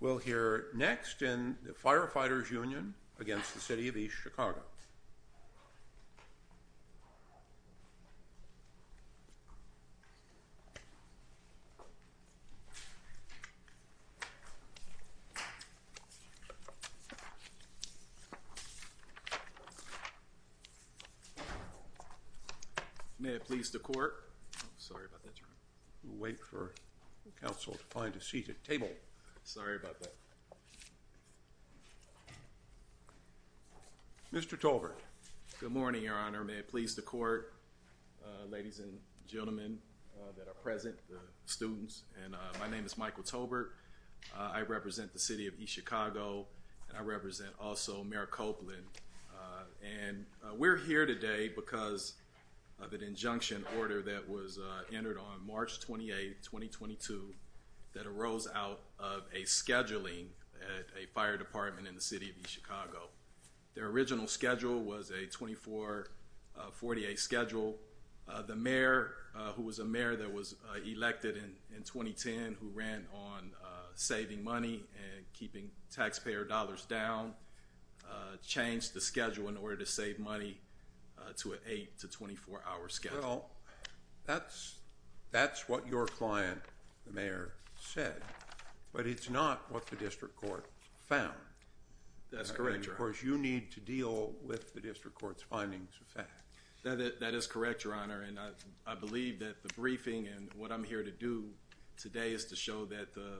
We'll hear next in the Firefighters Union against the City of East Chicago. May it please the court, we'll wait for counsel to find a seat at the table. Sorry about that. Mr. Tolbert. Good morning, Your Honor. May it please the court, ladies and gentlemen that are present, the students. My name is Michael Tolbert. I represent the City of East Chicago, and I represent also Mayor Copeland. And we're here today because of an injunction order that was entered on March 28, 2022, that arose out of a scheduling at a fire department in the City of East Chicago. Their original schedule was a 24-48 schedule. The mayor, who was a mayor that was elected in 2010, who ran on saving money and keeping taxpayer dollars down, changed the schedule in order to save money to an 8-24 hour schedule. Well, that's what your client, the mayor, said. But it's not what the district court found. That's correct, Your Honor. And, of course, you need to deal with the district court's findings of fact. That is correct, Your Honor. And I believe that the briefing and what I'm here to do today is to show that the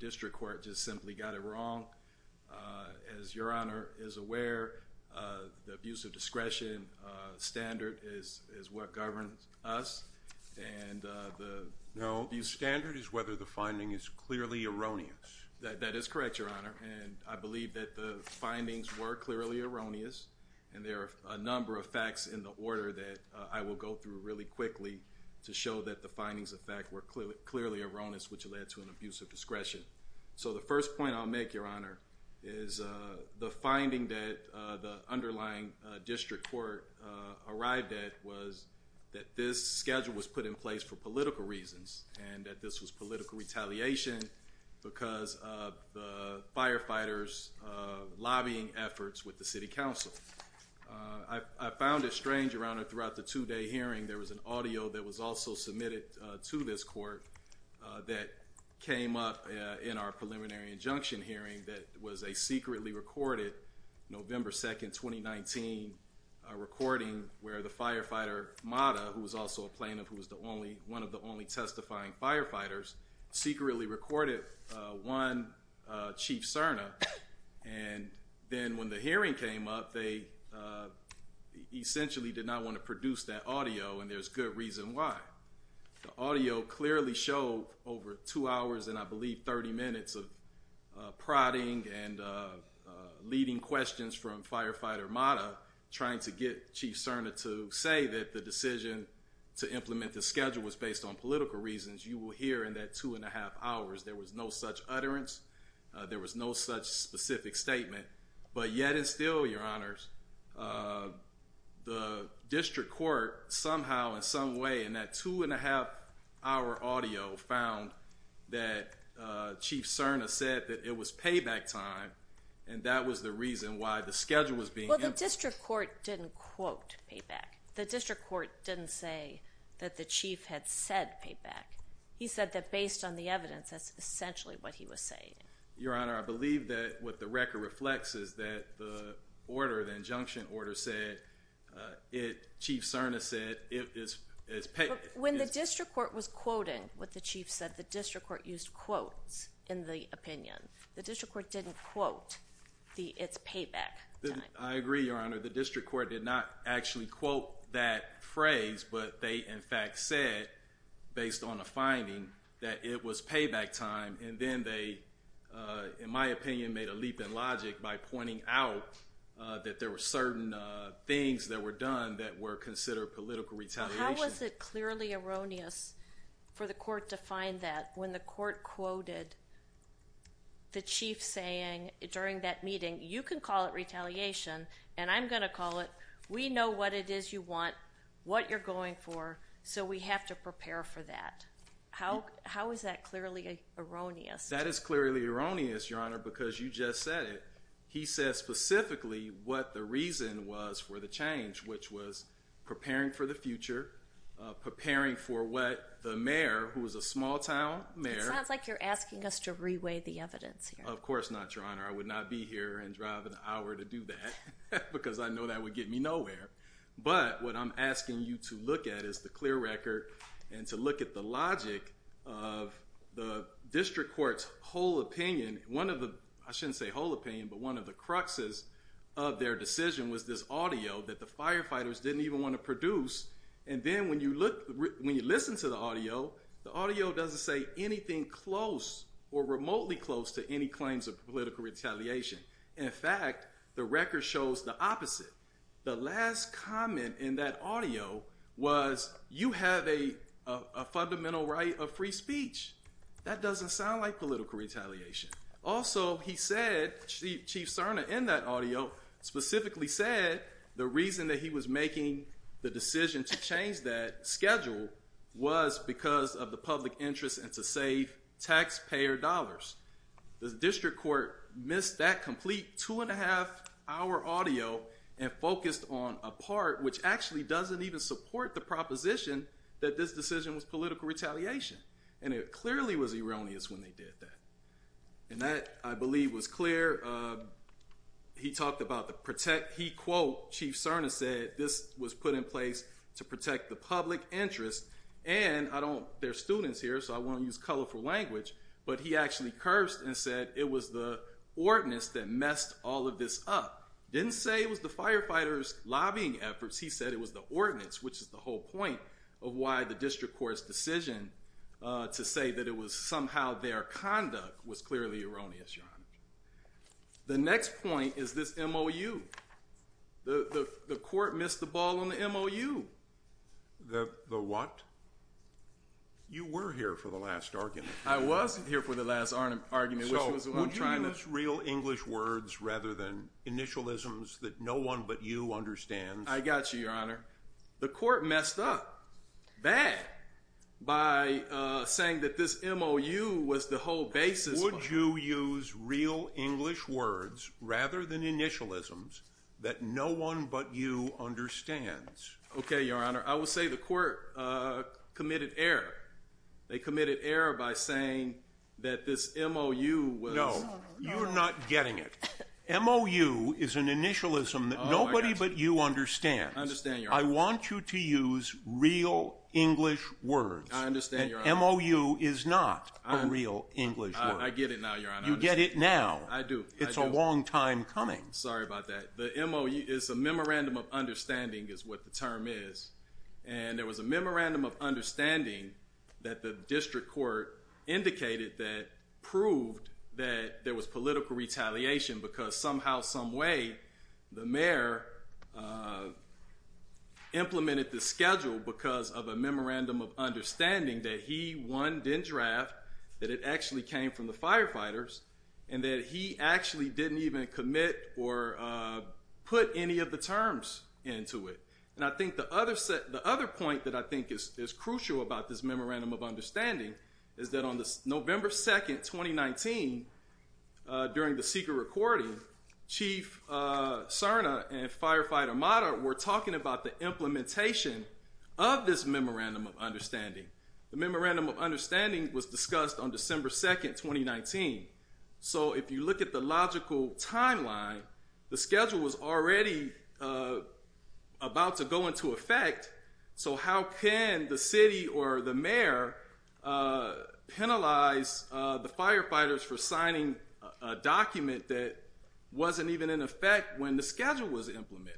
district court just simply got it wrong. As Your Honor is aware, the abuse of discretion standard is what governs us. No, the standard is whether the finding is clearly erroneous. That is correct, Your Honor. And I believe that the findings were clearly erroneous. And there are a number of facts in the order that I will go through really quickly to show that the findings of fact were clearly erroneous, which led to an abuse of discretion. So the first point I'll make, Your Honor, is the finding that the underlying district court arrived at was that this schedule was put in place for political reasons, and that this was political retaliation because of the firefighters' lobbying efforts with the city council. I found it strange, Your Honor, throughout the two-day hearing, there was an audio that was also submitted to this court that came up in our preliminary injunction hearing that was a secretly recorded November 2, 2019, recording where the firefighter, Mata, who was also a plaintiff, who was one of the only testifying firefighters, secretly recorded one Chief Cerna. And then when the hearing came up, they essentially did not want to produce that audio, and there's good reason why. The audio clearly showed over two hours and, I believe, 30 minutes of prodding and leading questions from firefighter Mata trying to get Chief Cerna to say that the decision to implement the schedule was based on political reasons, you will hear in that two-and-a-half hours there was no such utterance, there was no such specific statement. But yet and still, Your Honors, the district court somehow in some way in that two-and-a-half hour audio found that Chief Cerna said that it was payback time, and that was the reason why the schedule was being implemented. Well, the district court didn't quote payback. The district court didn't say that the Chief had said payback. He said that based on the evidence, that's essentially what he was saying. Your Honor, I believe that what the record reflects is that the order, the injunction order said it, Chief Cerna said it is payback. When the district court was quoting what the Chief said, the district court used quotes in the opinion. The district court didn't quote it's payback time. I agree, Your Honor. The district court did not actually quote that phrase, but they in fact said, based on a finding, that it was payback time. And then they, in my opinion, made a leap in logic by pointing out that there were certain things that were done that were considered political retaliation. But how was it clearly erroneous for the court to find that when the court quoted the Chief saying during that meeting, you can call it retaliation, and I'm going to call it, we know what it is you want, what you're going for, so we have to prepare for that. How is that clearly erroneous? That is clearly erroneous, Your Honor, because you just said it. He said specifically what the reason was for the change, which was preparing for the future, preparing for what the mayor, who was a small town mayor. It sounds like you're asking us to re-weigh the evidence here. Of course not, Your Honor. I would not be here and drive an hour to do that because I know that would get me nowhere. But what I'm asking you to look at is the clear record and to look at the logic of the district court's whole opinion. I shouldn't say whole opinion, but one of the cruxes of their decision was this audio that the firefighters didn't even want to produce. And then when you listen to the audio, the audio doesn't say anything close or remotely close to any claims of political retaliation. In fact, the record shows the opposite. The last comment in that audio was you have a fundamental right of free speech. That doesn't sound like political retaliation. Also, he said, Chief Cerna, in that audio specifically said the reason that he was making the decision to change that schedule was because of the public interest and to save taxpayer dollars. The district court missed that complete two and a half hour audio and focused on a part which actually doesn't even support the proposition that this decision was political retaliation. And it clearly was erroneous when they did that. And that, I believe, was clear. He talked about the protect. He, quote, Chief Cerna said this was put in place to protect the public interest. And I don't their students here, so I won't use colorful language. But he actually cursed and said it was the ordinance that messed all of this up. Didn't say it was the firefighters lobbying efforts. He said it was the ordinance, which is the whole point of why the district court's decision to say that it was somehow their conduct was clearly erroneous. The next point is this MOU. The court missed the ball on the MOU. The what? You were here for the last argument. I was here for the last argument. So would you use real English words rather than initialisms that no one but you understands? I got you, Your Honor. The court messed up bad by saying that this MOU was the whole basis. Would you use real English words rather than initialisms that no one but you understands? Okay, Your Honor. I will say the court committed error. They committed error by saying that this MOU was. No, you're not getting it. MOU is an initialism that nobody but you understands. I understand, Your Honor. I want you to use real English words. I understand, Your Honor. MOU is not a real English word. I get it now, Your Honor. You get it now. I do. It's a long time coming. Sorry about that. The MOU is a memorandum of understanding is what the term is. And there was a memorandum of understanding that the district court indicated that proved that there was political retaliation because somehow, someway, the mayor implemented the schedule because of a memorandum of understanding that he, one, didn't draft, that it actually came from the firefighters, and that he actually didn't even commit or put any of the terms into it. And I think the other point that I think is crucial about this memorandum of understanding is that on this November 2, 2019, during the secret recording, Chief Cerna and Firefighter Mata were talking about the implementation of this memorandum of understanding. The memorandum of understanding was discussed on December 2, 2019. So if you look at the logical timeline, the schedule was already about to go into effect. So how can the city or the mayor penalize the firefighters for signing a document that wasn't even in effect when the schedule was implemented?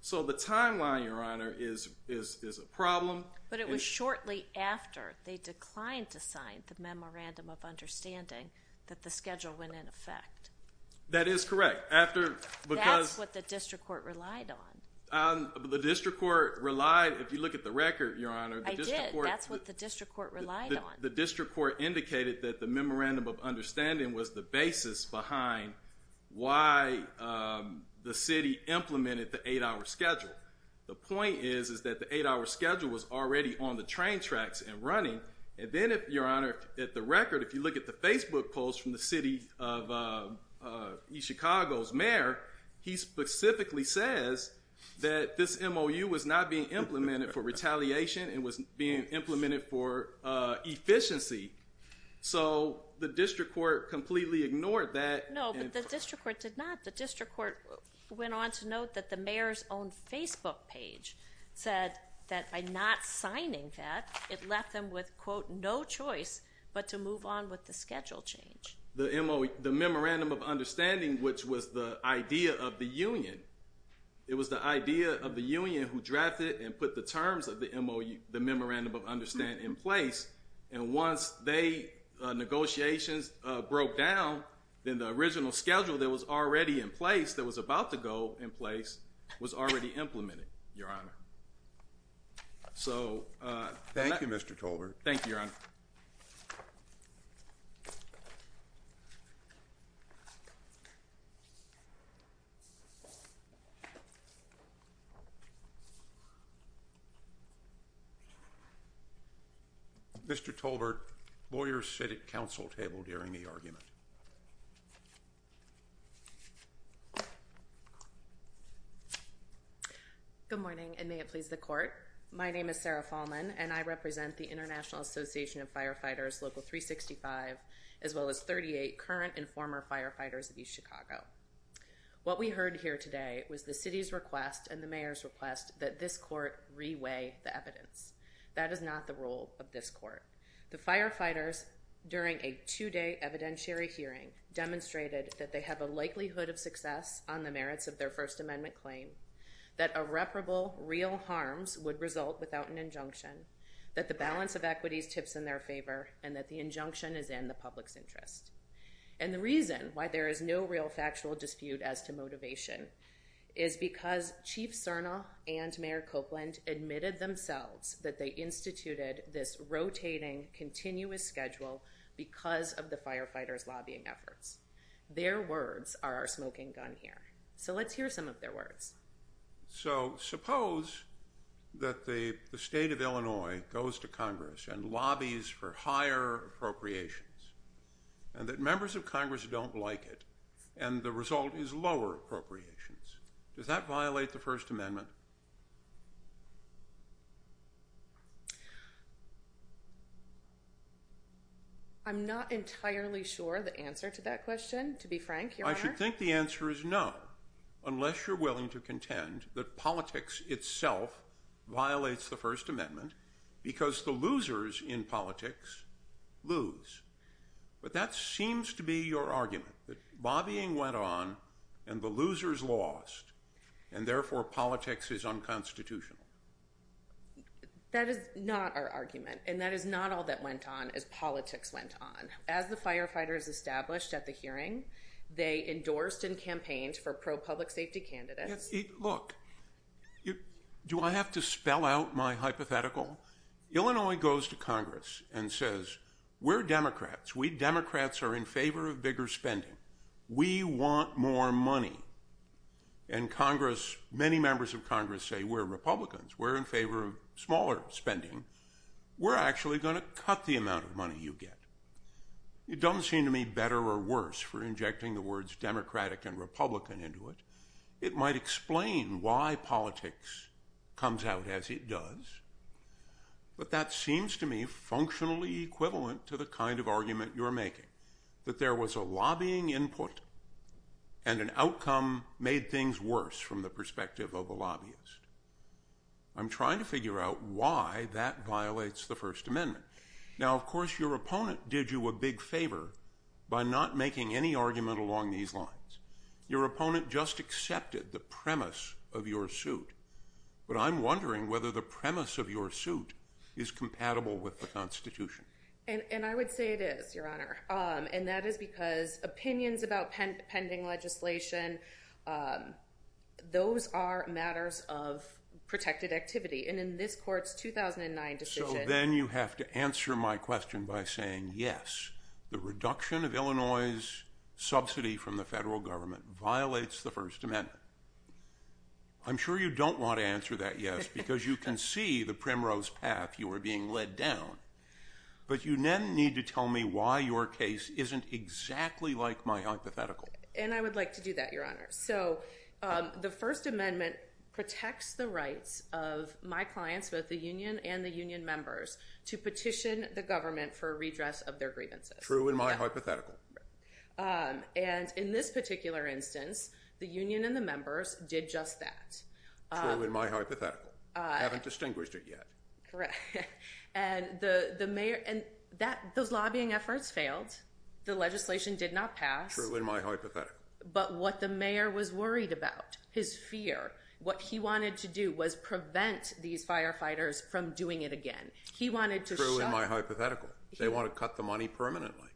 So the timeline, Your Honor, is a problem. But it was shortly after they declined to sign the memorandum of understanding that the schedule went in effect. That is correct. That's what the district court relied on. The district court relied, if you look at the record, Your Honor. I did. That's what the district court relied on. The district court indicated that the memorandum of understanding was the basis behind why the city implemented the eight-hour schedule. The point is that the eight-hour schedule was already on the train tracks and running. And then, Your Honor, at the record, if you look at the Facebook post from the city of Chicago's mayor, he specifically says that this MOU was not being implemented for retaliation and was being implemented for efficiency. So the district court completely ignored that. No, but the district court did not. The district court went on to note that the mayor's own Facebook page said that by not signing that, it left them with, quote, no choice but to move on with the schedule change. The memorandum of understanding, which was the idea of the union. It was the idea of the union who drafted and put the terms of the memorandum of understanding in place. And once they, negotiations broke down, then the original schedule that was already in place, that was about to go in place, was already implemented, Your Honor. Thank you, Mr. Tolbert. Thank you, Your Honor. Mr. Tolbert, lawyers sit at council table during the argument. Good morning, and may it please the court. My name is Sarah Fahlman, and I represent the International Association of Firefighters, Local 365, as well as 38 current and former firefighters of East Chicago. What we heard here today was the city's request and the mayor's request that this court re-weigh the evidence. That is not the role of this court. The firefighters, during a two-day evidentiary hearing, demonstrated that they have a likelihood of success on the merits of their First Amendment claim, that irreparable real harms would result without an injunction, that the balance of equities tips in their favor, and that the injunction is in the public's interest. And the reason why there is no real factual dispute as to motivation is because Chief admitted themselves that they instituted this rotating, continuous schedule because of the firefighters' lobbying efforts. Their words are our smoking gun here. So let's hear some of their words. So suppose that the state of Illinois goes to Congress and lobbies for higher appropriations, and that members of Congress don't like it, and the result is lower appropriations. Does that violate the First Amendment? I'm not entirely sure the answer to that question, to be frank, Your Honor. I should think the answer is no, unless you're willing to contend that politics itself violates the First Amendment because the losers in politics lose. But that seems to be your argument, that lobbying went on and the losers lost, and therefore politics is unconstitutional. That is not our argument, and that is not all that went on as politics went on. As the firefighters established at the hearing, they endorsed and campaigned for pro-public safety candidates. Look, do I have to spell out my hypothetical? Illinois goes to Congress and says, we're Democrats. We Democrats are in favor of bigger spending. We want more money. And many members of Congress say, we're Republicans. We're in favor of smaller spending. We're actually going to cut the amount of money you get. It doesn't seem to me better or worse for injecting the words Democratic and Republican into it. It might explain why politics comes out as it does, but that seems to me functionally equivalent to the kind of argument you're making, that there was a lobbying input and an outcome made things worse from the perspective of the lobbyist. I'm trying to figure out why that violates the First Amendment. Now, of course, your opponent did you a big favor by not making any argument along these lines. Your opponent just accepted the premise of your suit. But I'm wondering whether the premise of your suit is compatible with the Constitution. And I would say it is, Your Honor. And that is because opinions about pending legislation, those are matters of protected activity. And in this court's 2009 decision. So then you have to answer my question by saying, yes, the reduction of Illinois' subsidy from the federal government violates the First Amendment. I'm sure you don't want to answer that yes, because you can see the primrose path you are being led down. But you then need to tell me why your case isn't exactly like my hypothetical. And I would like to do that, Your Honor. So the First Amendment protects the rights of my clients, both the union and the union members, to petition the government for a redress of their grievances. True in my hypothetical. And in this particular instance, the union and the members did just that. True in my hypothetical. I haven't distinguished it yet. Correct. And those lobbying efforts failed. The legislation did not pass. True in my hypothetical. But what the mayor was worried about, his fear, what he wanted to do was prevent these firefighters from doing it again. He wanted to show. True in my hypothetical. They want to cut the money permanently.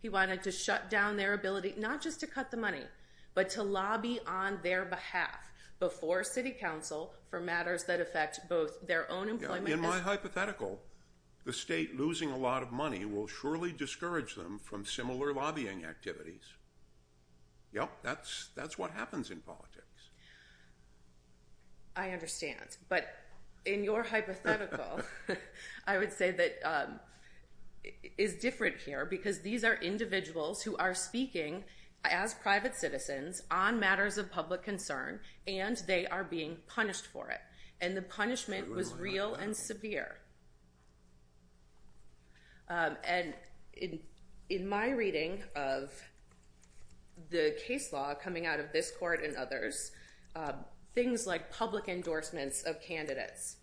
He wanted to shut down their ability, not just to cut the money, but to lobby on their behalf before city council for matters that affect both their own employment. In my hypothetical, the state losing a lot of money will surely discourage them from similar lobbying activities. Yep, that's what happens in politics. I understand. But in your hypothetical, I would say that it is different here because these are individuals who are speaking as private citizens on matters of public concern, and they are being punished for it. And the punishment was real and severe. And in my reading of the case law coming out of this court and others, things like public endorsements of candidates,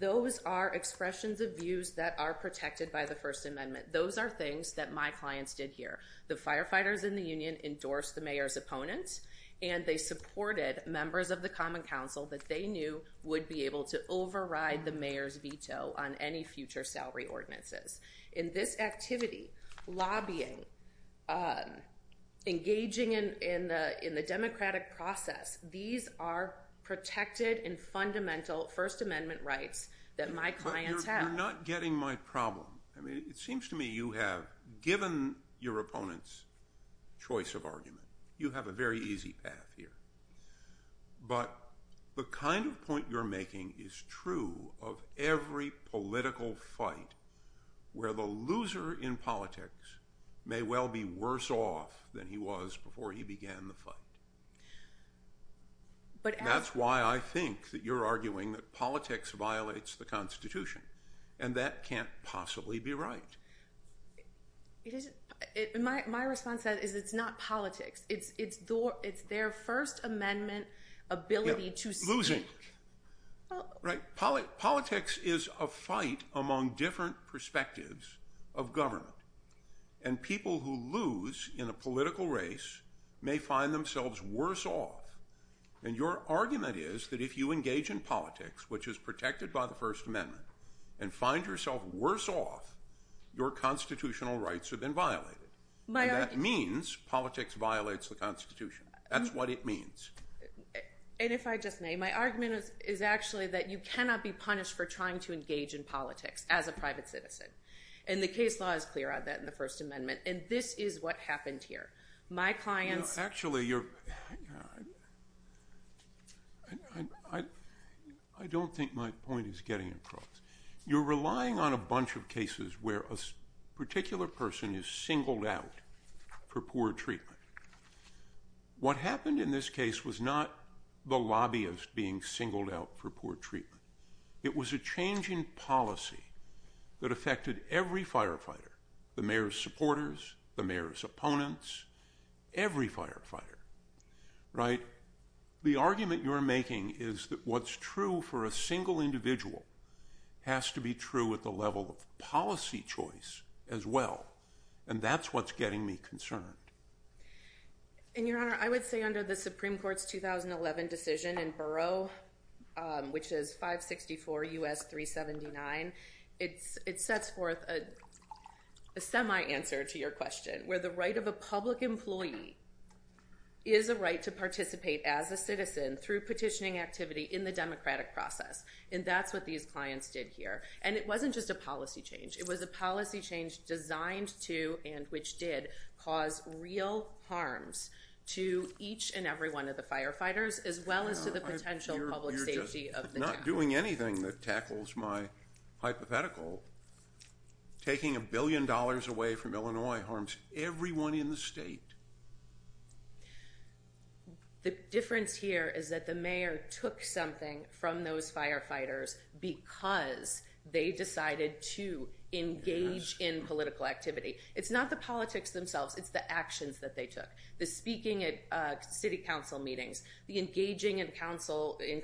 those are expressions of views that are protected by the First Amendment. Those are things that my clients did here. The firefighters in the union endorsed the mayor's opponents, and they supported members of the common council that they knew would be able to override the mayor's veto on any future salary ordinances. In this activity, lobbying, engaging in the democratic process, these are protected and fundamental First Amendment rights that my clients have. You're not getting my problem. I mean, it seems to me you have given your opponents choice of argument. You have a very easy path here. But the kind of point you're making is true of every political fight where the loser in politics may well be worse off than he was before he began the fight. That's why I think that you're arguing that politics violates the Constitution, and that can't possibly be right. My response to that is it's not politics. It's their First Amendment ability to speak. Losing. Right. Politics is a fight among different perspectives of government, and people who lose in a political race may find themselves worse off. And your argument is that if you engage in politics, which is protected by the First Amendment, and find yourself worse off, your constitutional rights have been violated. And that means politics violates the Constitution. That's what it means. And if I just may, my argument is actually that you cannot be punished for trying to engage in politics as a private citizen. And the case law is clear on that in the First Amendment. And this is what happened here. My clients— Actually, you're—I don't think my point is getting across. You're relying on a bunch of cases where a particular person is singled out for poor treatment. What happened in this case was not the lobbyist being singled out for poor treatment. It was a change in policy that affected every firefighter—the mayor's supporters, the mayor's opponents, every firefighter. Right? The argument you're making is that what's true for a single individual has to be true at the level of policy choice as well. And that's what's getting me concerned. And, Your Honor, I would say under the Supreme Court's 2011 decision in Burrough, which is 564 U.S. 379, it sets forth a semi-answer to your question, where the right of a public employee is a right to participate as a citizen through petitioning activity in the democratic process. And that's what these clients did here. And it wasn't just a policy change. It was a policy change designed to, and which did, cause real harms to each and every one of the firefighters as well as to the potential public safety of the— You're just not doing anything that tackles my hypothetical. Taking a billion dollars away from Illinois harms everyone in the state. The difference here is that the mayor took something from those firefighters because they decided to engage in political activity. It's not the politics themselves. It's the actions that they took. The speaking at city council meetings, the engaging in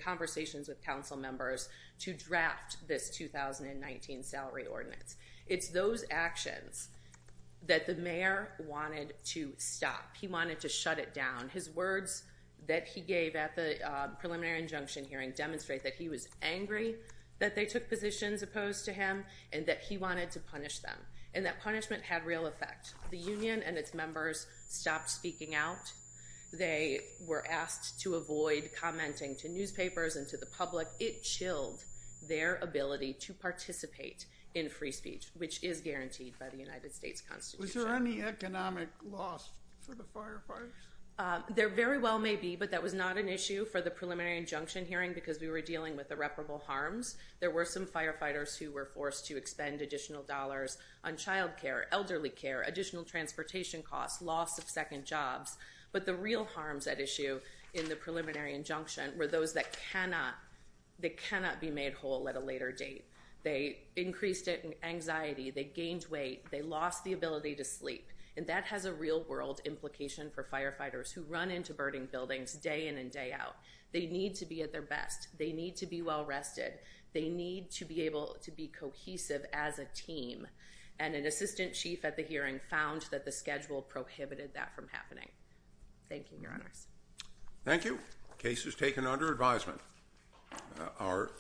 conversations with council members to draft this 2019 salary ordinance. It's those actions that the mayor wanted to stop. He wanted to shut it down. His words that he gave at the preliminary injunction hearing demonstrate that he was angry that they took positions opposed to him and that he wanted to punish them. And that punishment had real effect. The union and its members stopped speaking out. They were asked to avoid commenting to newspapers and to the public. But it chilled their ability to participate in free speech, which is guaranteed by the United States Constitution. Was there any economic loss for the firefighters? There very well may be, but that was not an issue for the preliminary injunction hearing because we were dealing with irreparable harms. There were some firefighters who were forced to expend additional dollars on child care, elderly care, additional transportation costs, loss of second jobs. But the real harms at issue in the preliminary injunction were those that cannot be made whole at a later date. They increased anxiety. They gained weight. They lost the ability to sleep. And that has a real world implication for firefighters who run into burning buildings day in and day out. They need to be at their best. They need to be well rested. They need to be able to be cohesive as a team. And an assistant chief at the hearing found that the schedule prohibited that from happening. Thank you, Your Honors. Thank you. Case is taken under advisement.